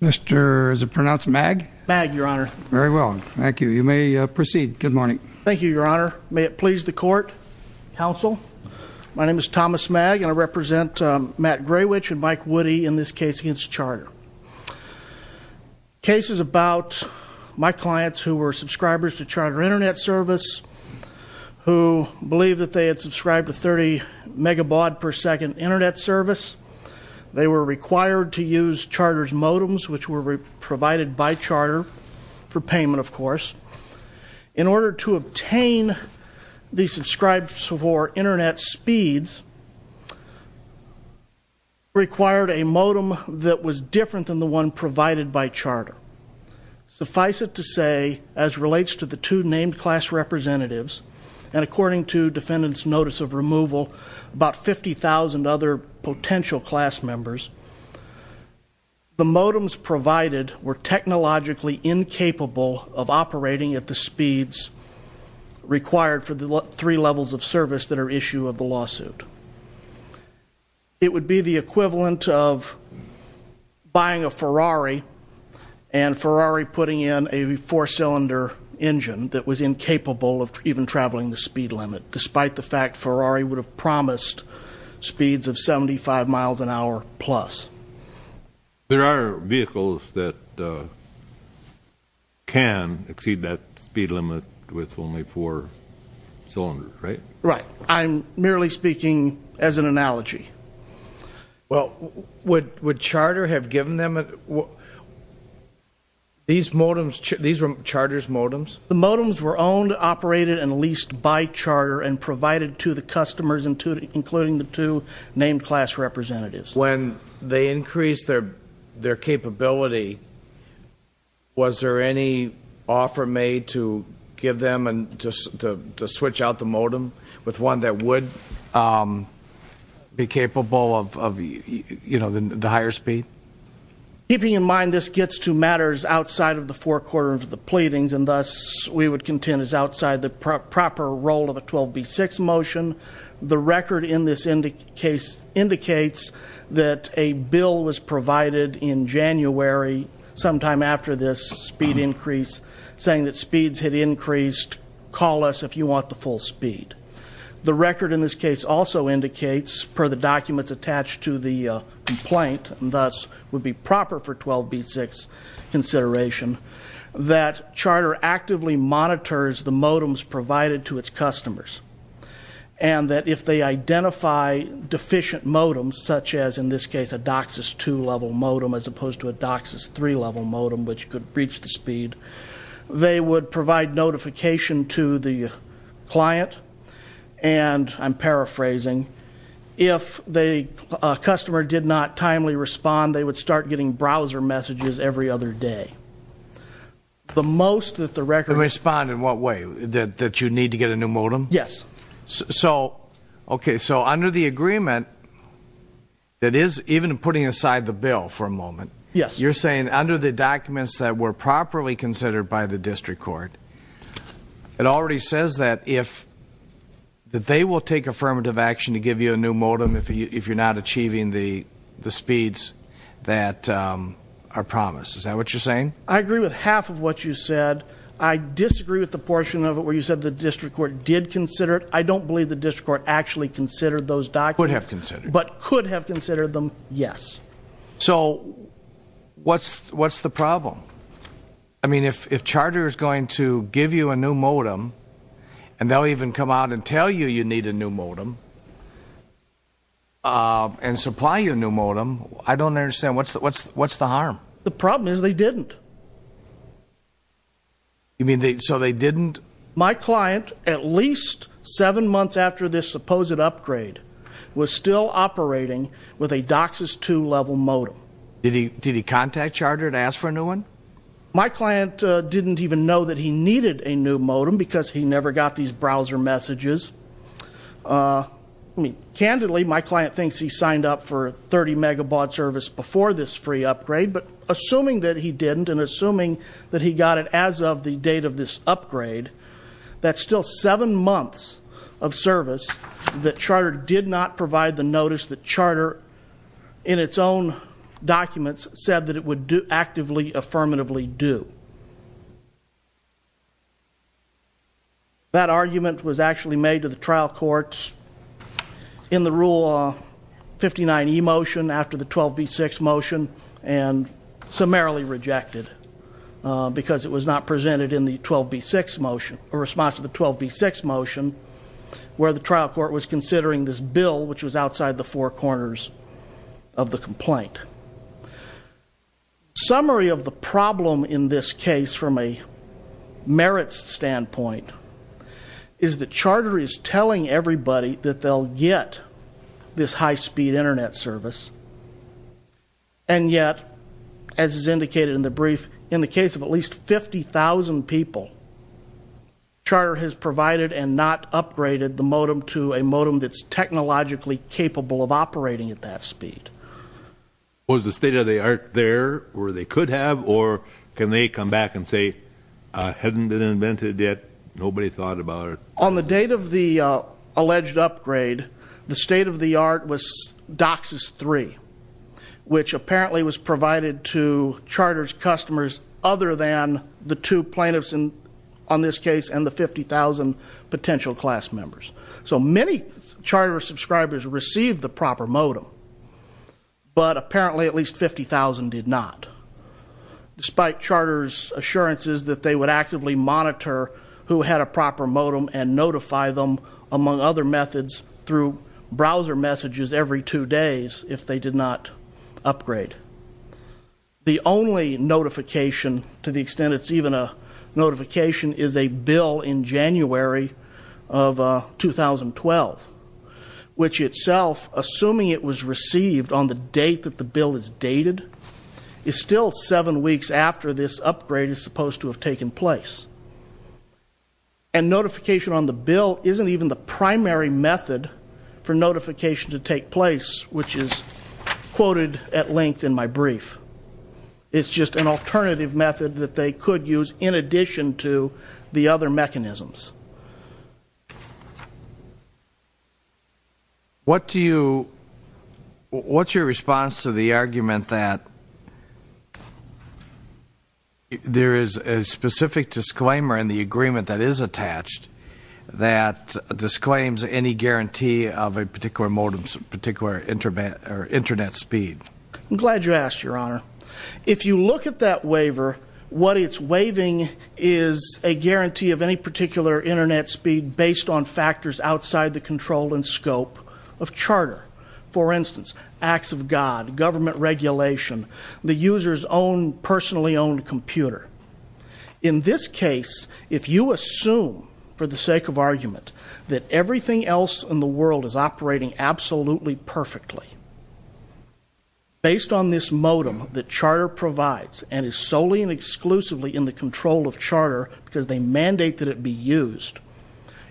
Mr. is it pronounced Mag? Mag, your honor. Very well. Thank you. You may proceed. Good morning. Thank you, your honor. May it please the court. Counsel, my name is Thomas Mag and I represent Matt Grawitch and Mike Woody in this case against Charter. The case is about my clients who were subscribers to Charter Internet Service who believed that they had subscribed to 30 megabaud per second internet service. They were required to use Charter's modems which were provided by Charter for payment, of course. In order to obtain the subscribes for internet speeds required a modem that was different than the one provided by Charter. Suffice it to say, as relates to the two named class representatives, and according to defendant's notice of removal, about 50,000 other potential class members. The modems provided were technologically incapable of operating at the speeds required for the three levels of service that are issue of the lawsuit. It would be the equivalent of buying a Ferrari and Ferrari putting in a four cylinder engine that was incapable of even traveling the speed limit. Despite the fact Ferrari would have promised speeds of 75 miles an hour plus. There are vehicles that can exceed that speed limit with only four cylinders, right? Right, I'm merely speaking as an analogy. Well, would Charter have given them? These modems, these were Charter's modems? The modems were owned, operated, and leased by Charter and provided to the customers including the two named class representatives. When they increased their capability, was there any offer made to give them and to switch out the modem with one that would be capable of the higher speed? Keeping in mind this gets to matters outside of the forecourt of the pleadings and thus we would contend is outside the proper role of a 12B6 motion. The record in this case indicates that a bill was provided in January, sometime after this speed increase, saying that speeds had increased. Call us if you want the full speed. The record in this case also indicates, per the documents attached to the complaint, and thus would be proper for 12B6 consideration, that Charter actively monitors the modems provided to its customers. And that if they identify deficient modems, such as in this case a DOCSIS 2 level modem as opposed to a DOCSIS 3 level modem, which could breach the speed, they would provide notification to the client. And I'm paraphrasing, if a customer did not timely respond, they would start getting browser messages every other day. The most that the record- Respond in what way? That you need to get a new modem? Yes. So, okay, so under the agreement, that is even putting aside the bill for a moment- Yes. You're saying under the documents that were properly considered by the district court, it already says that they will take affirmative action to give you a new modem if you're not achieving the speeds that are promised. Is that what you're saying? I agree with half of what you said. I disagree with the portion of it where you said the district court did consider it. I don't believe the district court actually considered those documents- Could have considered them. But could have considered them, yes. So, what's the problem? I mean, if Charter is going to give you a new modem, and they'll even come out and tell you you need a new modem, and supply you a new modem, I don't understand, what's the harm? The problem is they didn't. You mean, so they didn't- My client, at least seven months after this supposed upgrade, was still operating with a DOCSIS II level modem. Did he contact Charter to ask for a new one? My client didn't even know that he needed a new modem because he never got these browser messages. I mean, candidly, my client thinks he signed up for 30 megabaud service before this free upgrade, but assuming that he didn't, and assuming that he got it as of the date of this upgrade, that's still seven months of service that Charter did not provide the notice that Charter, in its own documents, said that it would actively, affirmatively do. That argument was actually made to the trial courts in the Rule 59E motion, after the 12B6 motion, and summarily rejected because it was not presented in the 12B6 motion, or response to the 12B6 motion, where the trial court was considering this bill, which was outside the four corners of the complaint. Summary of the problem in this case, from a merits standpoint, is that Charter is telling everybody that they'll get this high-speed Internet service, and yet, as is indicated in the brief, in the case of at least 50,000 people, Charter has provided and not upgraded the modem to a modem that's technologically capable of operating at that speed. Was the state-of-the-art there, or they could have, or can they come back and say, hadn't been invented yet, nobody thought about it? On the date of the alleged upgrade, the state-of-the-art was DOCSIS 3, which apparently was provided to Charter's customers other than the two plaintiffs, on this case, and the 50,000 potential class members. So many Charter subscribers received the proper modem, but apparently at least 50,000 did not, despite Charter's assurances that they would actively monitor who had a proper modem and notify them, among other methods, through browser messages every two days if they did not upgrade. The only notification, to the extent it's even a notification, is a bill in January of 2012, which itself, assuming it was received on the date that the bill is dated, is still seven weeks after this upgrade is supposed to have taken place. And notification on the bill isn't even the primary method for notification to take place, which is quoted at length in my brief. It's just an alternative method that they could use in addition to the other mechanisms. What's your response to the argument that there is a specific disclaimer in the agreement that is attached that disclaims any guarantee of a particular modem's particular Internet speed? I'm glad you asked, Your Honor. If you look at that waiver, what it's waiving is a guarantee of any particular Internet speed based on factors outside the control and scope of Charter. For instance, acts of God, government regulation, the user's own personally owned computer. In this case, if you assume, for the sake of argument, that everything else in the world is operating absolutely perfectly based on this modem that Charter provides and is solely and exclusively in the control of Charter because they mandate that it be used,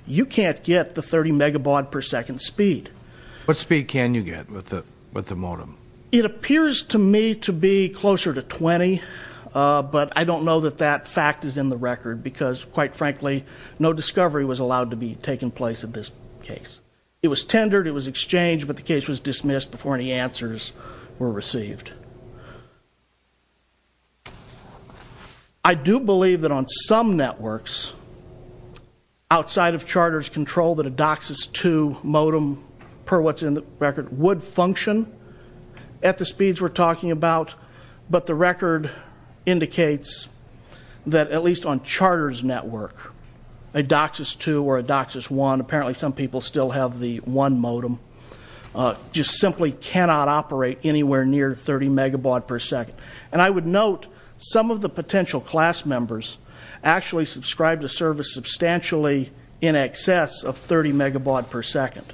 you can't get the 30 megabaud per second speed. What speed can you get with the modem? It appears to me to be closer to 20, but I don't know that that fact is in the record because, quite frankly, no discovery was allowed to be taken place in this case. It was tendered, it was exchanged, but the case was dismissed before any answers were received. I do believe that on some networks outside of Charter's control that a DOCSIS II modem, per what's in the record, would function at the speeds we're talking about, but the record indicates that, at least on Charter's network, a DOCSIS II or a DOCSIS I, apparently some people still have the I modem, just simply cannot operate anywhere near 30 megabaud per second. And I would note some of the potential class members actually subscribe to service substantially in excess of 30 megabaud per second.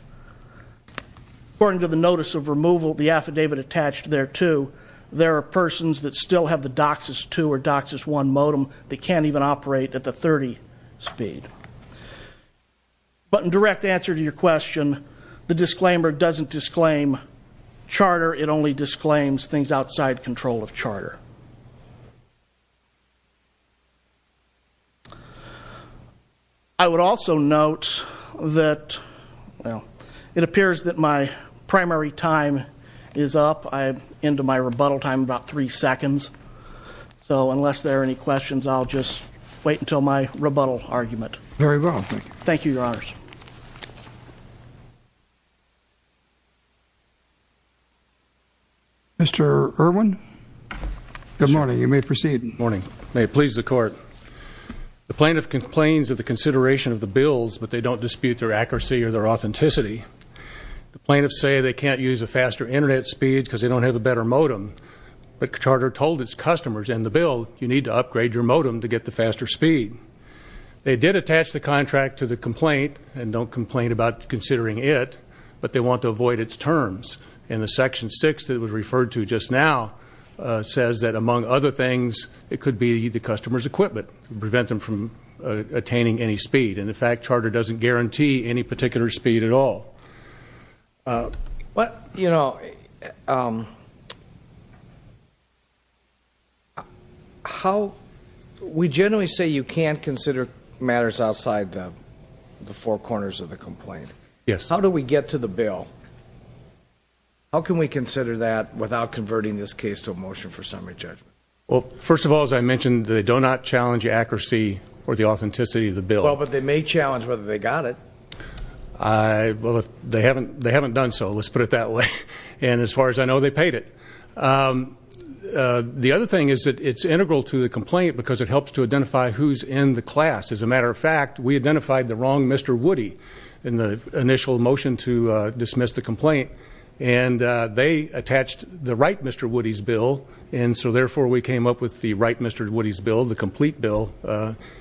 According to the notice of removal, the affidavit attached thereto, there are persons that still have the DOCSIS II or DOCSIS I modem that can't even operate at the 30 speed. But in direct answer to your question, the disclaimer doesn't disclaim Charter, it only disclaims things outside control of Charter. I would also note that, well, it appears that my primary time is up. I'm into my rebuttal time, about three seconds. So unless there are any questions, I'll just wait until my rebuttal argument. Very well, thank you. Thank you, Your Honors. Mr. Irwin? Good morning. You may proceed. Good morning. May it please the Court. The plaintiff complains of the consideration of the bills, but they don't dispute their accuracy or their authenticity. The plaintiffs say they can't use a faster Internet speed because they don't have a better modem. But Charter told its customers in the bill, you need to upgrade your modem to get the faster speed. They did attach the contract to the complaint and don't complain about considering it, but they want to avoid its terms. And the Section 6 that was referred to just now says that, among other things, it could be the customer's equipment to prevent them from attaining any speed. And, in fact, Charter doesn't guarantee any particular speed at all. We generally say you can't consider matters outside the four corners of the complaint. Yes. How do we get to the bill? How can we consider that without converting this case to a motion for summary judgment? Well, first of all, as I mentioned, they do not challenge the accuracy or the authenticity of the bill. Well, but they may challenge whether they got it. Well, they haven't done so. Let's put it that way. And as far as I know, they paid it. The other thing is that it's integral to the complaint because it helps to identify who's in the class. As a matter of fact, we identified the wrong Mr. Woody in the initial motion to dismiss the complaint, and they attached the right Mr. Woody's bill. And so, therefore, we came up with the right Mr. Woody's bill, the complete bill,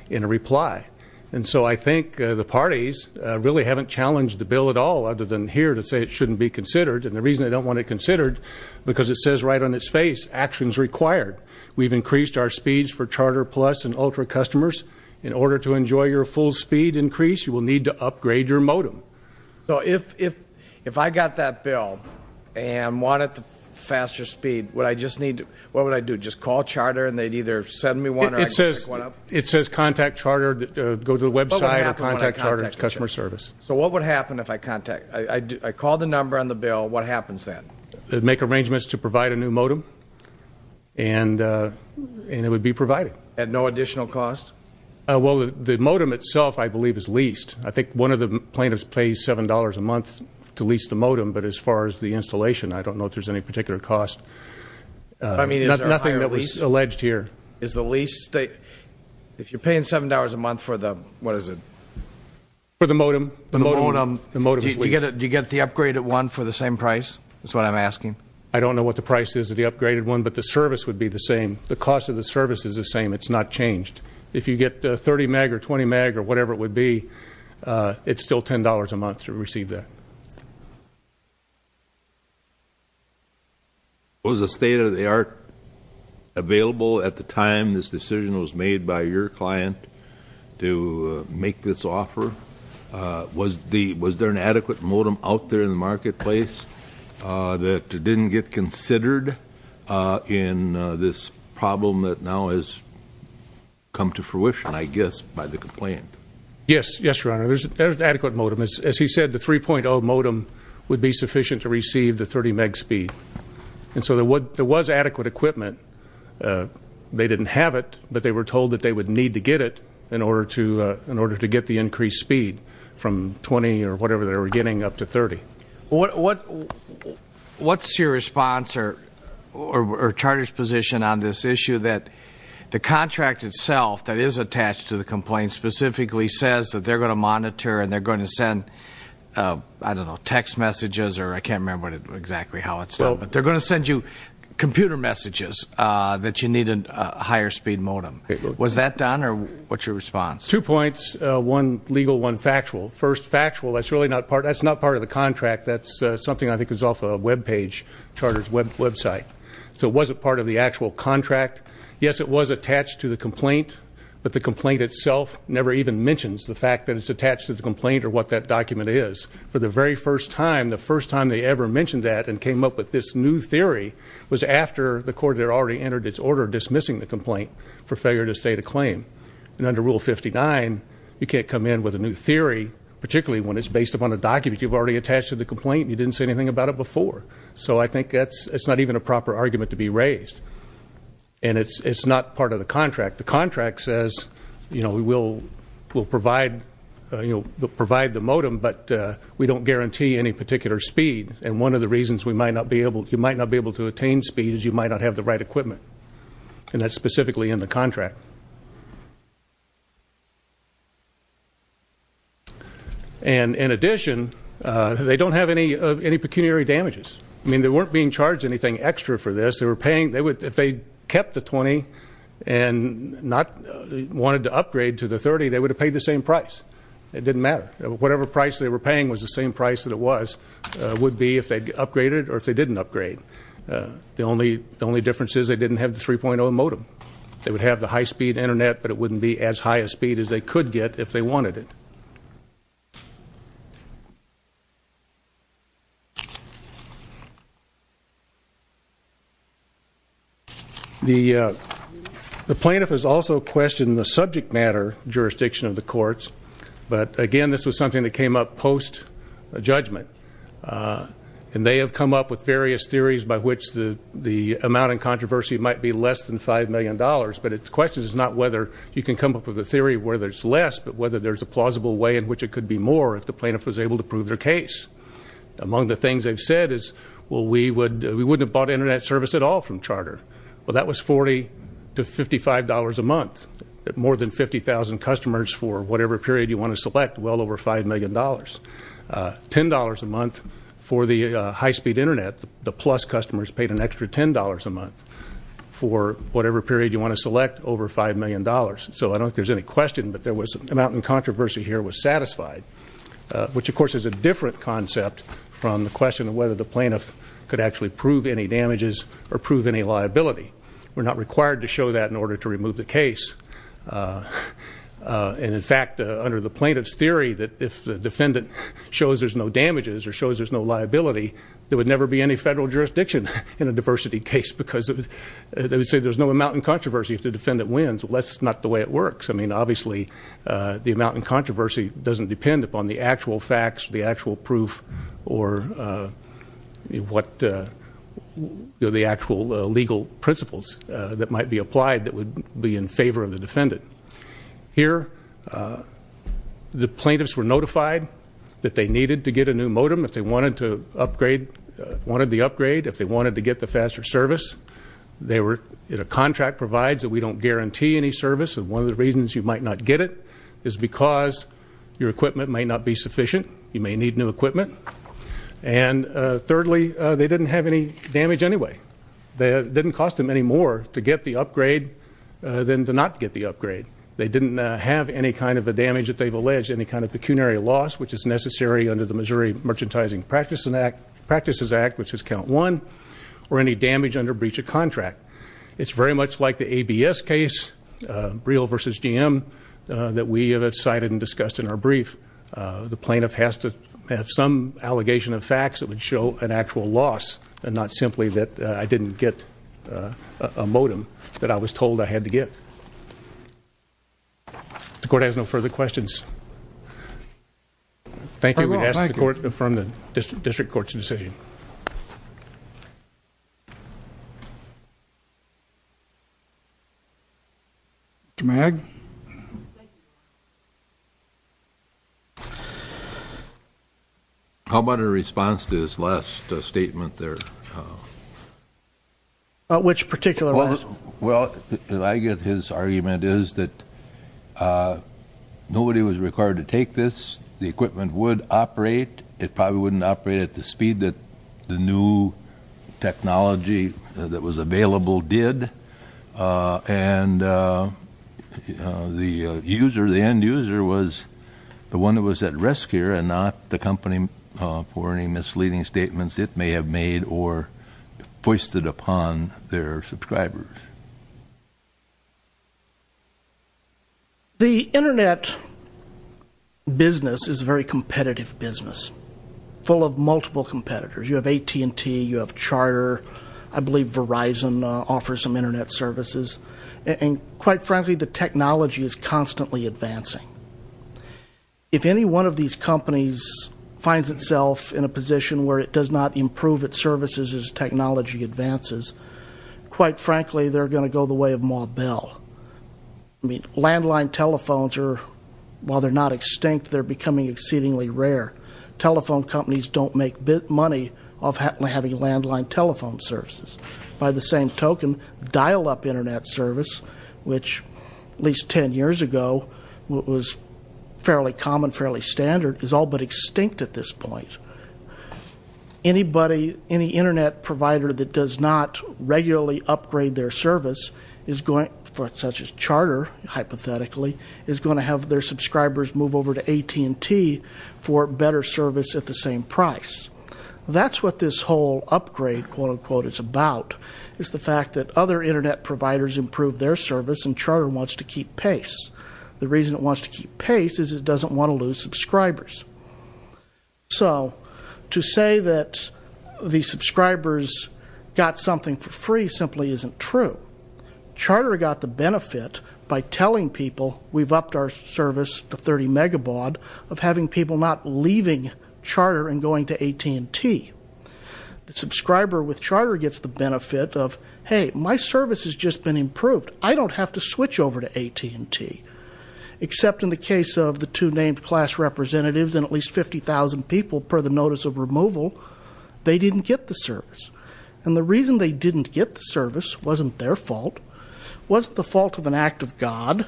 in reply. And so I think the parties really haven't challenged the bill at all other than here to say it shouldn't be considered. And the reason they don't want it considered, because it says right on its face, actions required. We've increased our speeds for Charter Plus and Ultra customers. In order to enjoy your full speed increase, you will need to upgrade your modem. So if I got that bill and wanted the faster speed, what would I do? Just call Charter and they'd either send me one or I'd pick one up? It says contact Charter, go to the website or contact Charter customer service. So what would happen if I contact? I call the number on the bill, what happens then? Make arrangements to provide a new modem, and it would be provided. At no additional cost? Well, the modem itself, I believe, is leased. I think one of the plaintiffs pays $7 a month to lease the modem, but as far as the installation, I don't know if there's any particular cost. Nothing that was alleged here. Is the lease, if you're paying $7 a month for the, what is it? For the modem. The modem. The modem is leased. Do you get the upgraded one for the same price is what I'm asking? I don't know what the price is of the upgraded one, but the service would be the same. The cost of the service is the same. It's not changed. If you get 30 meg or 20 meg or whatever it would be, it's still $10 a month to receive that. Was a state-of-the-art available at the time this decision was made by your client to make this offer? Was there an adequate modem out there in the marketplace that didn't get considered in this problem that now has come to fruition, I guess, by the complaint? Yes. Yes, Your Honor. There's an adequate modem. As he said, the 3.0 modem would be sufficient to receive the 30 meg speed. And so there was adequate equipment. They didn't have it, but they were told that they would need to get it in order to get the increased speed from 20 or whatever they were getting up to 30. What's your response or charter's position on this issue that the contract itself that is attached to the complaint specifically says that they're going to monitor and they're going to send, I don't know, text messages or I can't remember exactly how it's done, but they're going to send you computer messages that you need a higher speed modem. Was that done or what's your response? Two points, one legal, one factual. First, factual, that's really not part of the contract. That's something I think is off a web page, charter's website. So it wasn't part of the actual contract. Yes, it was attached to the complaint, but the complaint itself never even mentions the fact that it's attached to the complaint or what that document is. For the very first time, the first time they ever mentioned that and came up with this new theory was after the court had already entered its order dismissing the complaint for failure to state a claim. And under Rule 59, you can't come in with a new theory, particularly when it's based upon a document you've already attached to the complaint and you didn't say anything about it before. So I think that's not even a proper argument to be raised. And it's not part of the contract. The contract says we'll provide the modem, but we don't guarantee any particular speed. And one of the reasons you might not be able to attain speed is you might not have the right equipment. And that's specifically in the contract. And in addition, they don't have any pecuniary damages. I mean, they weren't being charged anything extra for this. If they kept the 20 and wanted to upgrade to the 30, they would have paid the same price. It didn't matter. Whatever price they were paying was the same price that it was, would be if they upgraded or if they didn't upgrade. The only difference is they didn't have the 3.0 modem. They would have the high-speed Internet, but it wouldn't be as high a speed as they could get if they wanted it. The plaintiff has also questioned the subject matter jurisdiction of the courts. But, again, this was something that came up post-judgment. And they have come up with various theories by which the amount in controversy might be less than $5 million. But the question is not whether you can come up with a theory where there's less, but whether there's a plausible way in which it could be more if the plaintiff was able to prove their case. Among the things they've said is, well, we wouldn't have bought Internet service at all from Charter. Well, that was $40 to $55 a month. More than 50,000 customers for whatever period you want to select, well over $5 million. $10 a month for the high-speed Internet. The plus customers paid an extra $10 a month for whatever period you want to select, over $5 million. So I don't think there's any question, but the amount in controversy here was satisfied. Which, of course, is a different concept from the question of whether the plaintiff could actually prove any damages or prove any liability. We're not required to show that in order to remove the case. And, in fact, under the plaintiff's theory that if the defendant shows there's no damages or shows there's no liability, there would never be any federal jurisdiction in a diversity case. Because they would say there's no amount in controversy if the defendant wins. Well, that's not the way it works. I mean, obviously, the amount in controversy doesn't depend upon the actual facts, the actual proof, or what the actual legal principles that might be applied that would be in favor of the defendant. Here, the plaintiffs were notified that they needed to get a new modem. If they wanted the upgrade, if they wanted to get the faster service, a contract provides that we don't guarantee any service. And one of the reasons you might not get it is because your equipment might not be sufficient. You may need new equipment. And, thirdly, they didn't have any damage anyway. It didn't cost them any more to get the upgrade than to not get the upgrade. They didn't have any kind of a damage that they've alleged, any kind of pecuniary loss, which is necessary under the Missouri Merchandising Practices Act, which is count one, or any damage under breach of contract. It's very much like the ABS case, Briel v. GM, that we have cited and discussed in our brief. The plaintiff has to have some allegation of facts that would show an actual loss and not simply that I didn't get a modem that I was told I had to get. The court has no further questions. Thank you. We ask the court to affirm the district court's decision. Mr. Magg. How about in response to his last statement there? Which particular last? Well, I guess his argument is that nobody was required to take this. The equipment would operate. It probably wouldn't operate at the speed that the new technology that was available did. And the end user was the one who was at risk here and not the company for any misleading statements it may have made or foisted upon their subscribers. The Internet business is a very competitive business, full of multiple competitors. You have AT&T. You have Charter. I believe Verizon offers some Internet services. And quite frankly, the technology is constantly advancing. If any one of these companies finds itself in a position where it does not improve its services as technology advances, quite frankly, they're going to go the way of Ma Bell. I mean, landline telephones are, while they're not extinct, they're becoming exceedingly rare. Telephone companies don't make money off having landline telephone services. By the same token, dial-up Internet service, which at least ten years ago was fairly common, fairly standard, is all but extinct at this point. Anybody, any Internet provider that does not regularly upgrade their service, such as Charter, hypothetically, is going to have their subscribers move over to AT&T for better service at the same price. That's what this whole upgrade, quote-unquote, is about, is the fact that other Internet providers improve their service, and Charter wants to keep pace. The reason it wants to keep pace is it doesn't want to lose subscribers. So to say that the subscribers got something for free simply isn't true. Charter got the benefit by telling people we've upped our service to 30 megabaud of having people not leaving Charter and going to AT&T. The subscriber with Charter gets the benefit of, hey, my service has just been improved. I don't have to switch over to AT&T, except in the case of the two named class representatives and at least 50,000 people per the notice of removal. They didn't get the service. And the reason they didn't get the service wasn't their fault, wasn't the fault of an act of God,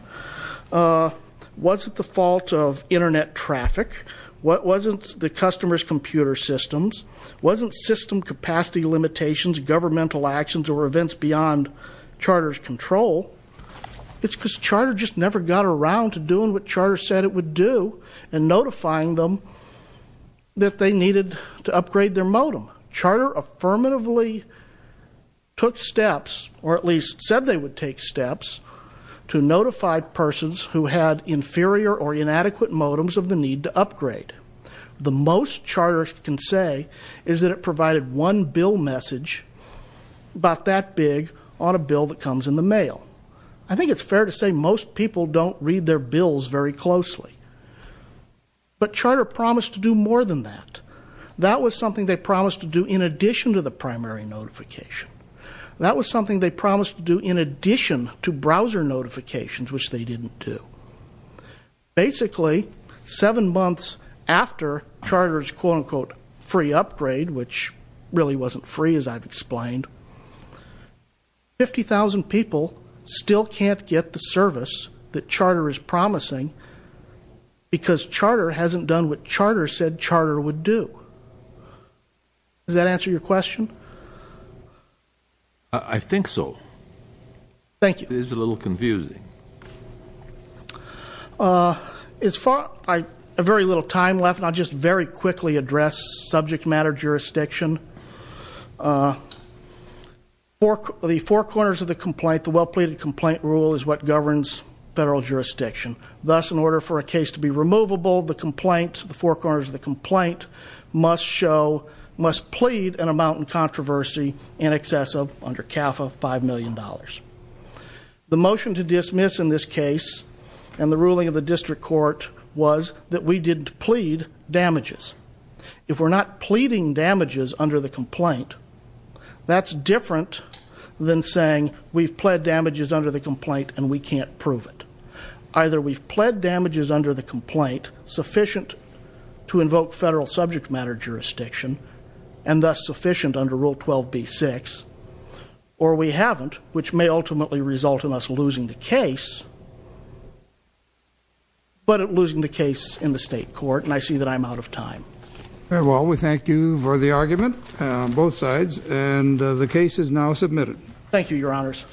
wasn't the fault of Internet traffic, wasn't the customer's computer systems, wasn't system capacity limitations, governmental actions, or events beyond Charter's control. It's because Charter just never got around to doing what Charter said it would do and notifying them that they needed to upgrade their modem. Charter affirmatively took steps, or at least said they would take steps, to notify persons who had inferior or inadequate modems of the need to upgrade. The most Charter can say is that it provided one bill message, about that big, on a bill that comes in the mail. I think it's fair to say most people don't read their bills very closely. But Charter promised to do more than that. That was something they promised to do in addition to the primary notification. That was something they promised to do in addition to browser notifications, which they didn't do. Basically, seven months after Charter's quote-unquote free upgrade, which really wasn't free as I've explained, 50,000 people still can't get the service that Charter is promising because Charter hasn't done what Charter said Charter would do. Does that answer your question? I think so. Thank you. It is a little confusing. There's very little time left. I'll just very quickly address subject matter jurisdiction. The four corners of the complaint, the well-pleaded complaint rule, is what governs federal jurisdiction. Thus, in order for a case to be removable, the four corners of the complaint must plead an amount in controversy in excess of, under CAFA, $5 million. The motion to dismiss in this case and the ruling of the district court was that we didn't plead damages. If we're not pleading damages under the complaint, that's different than saying we've pled damages under the complaint and we can't prove it. Either we've pled damages under the complaint sufficient to invoke federal subject matter jurisdiction and thus sufficient under Rule 12b-6, or we haven't, which may ultimately result in us losing the case, but losing the case in the state court, and I see that I'm out of time. Very well. We thank you for the argument on both sides, and the case is now submitted. Thank you, Your Honors.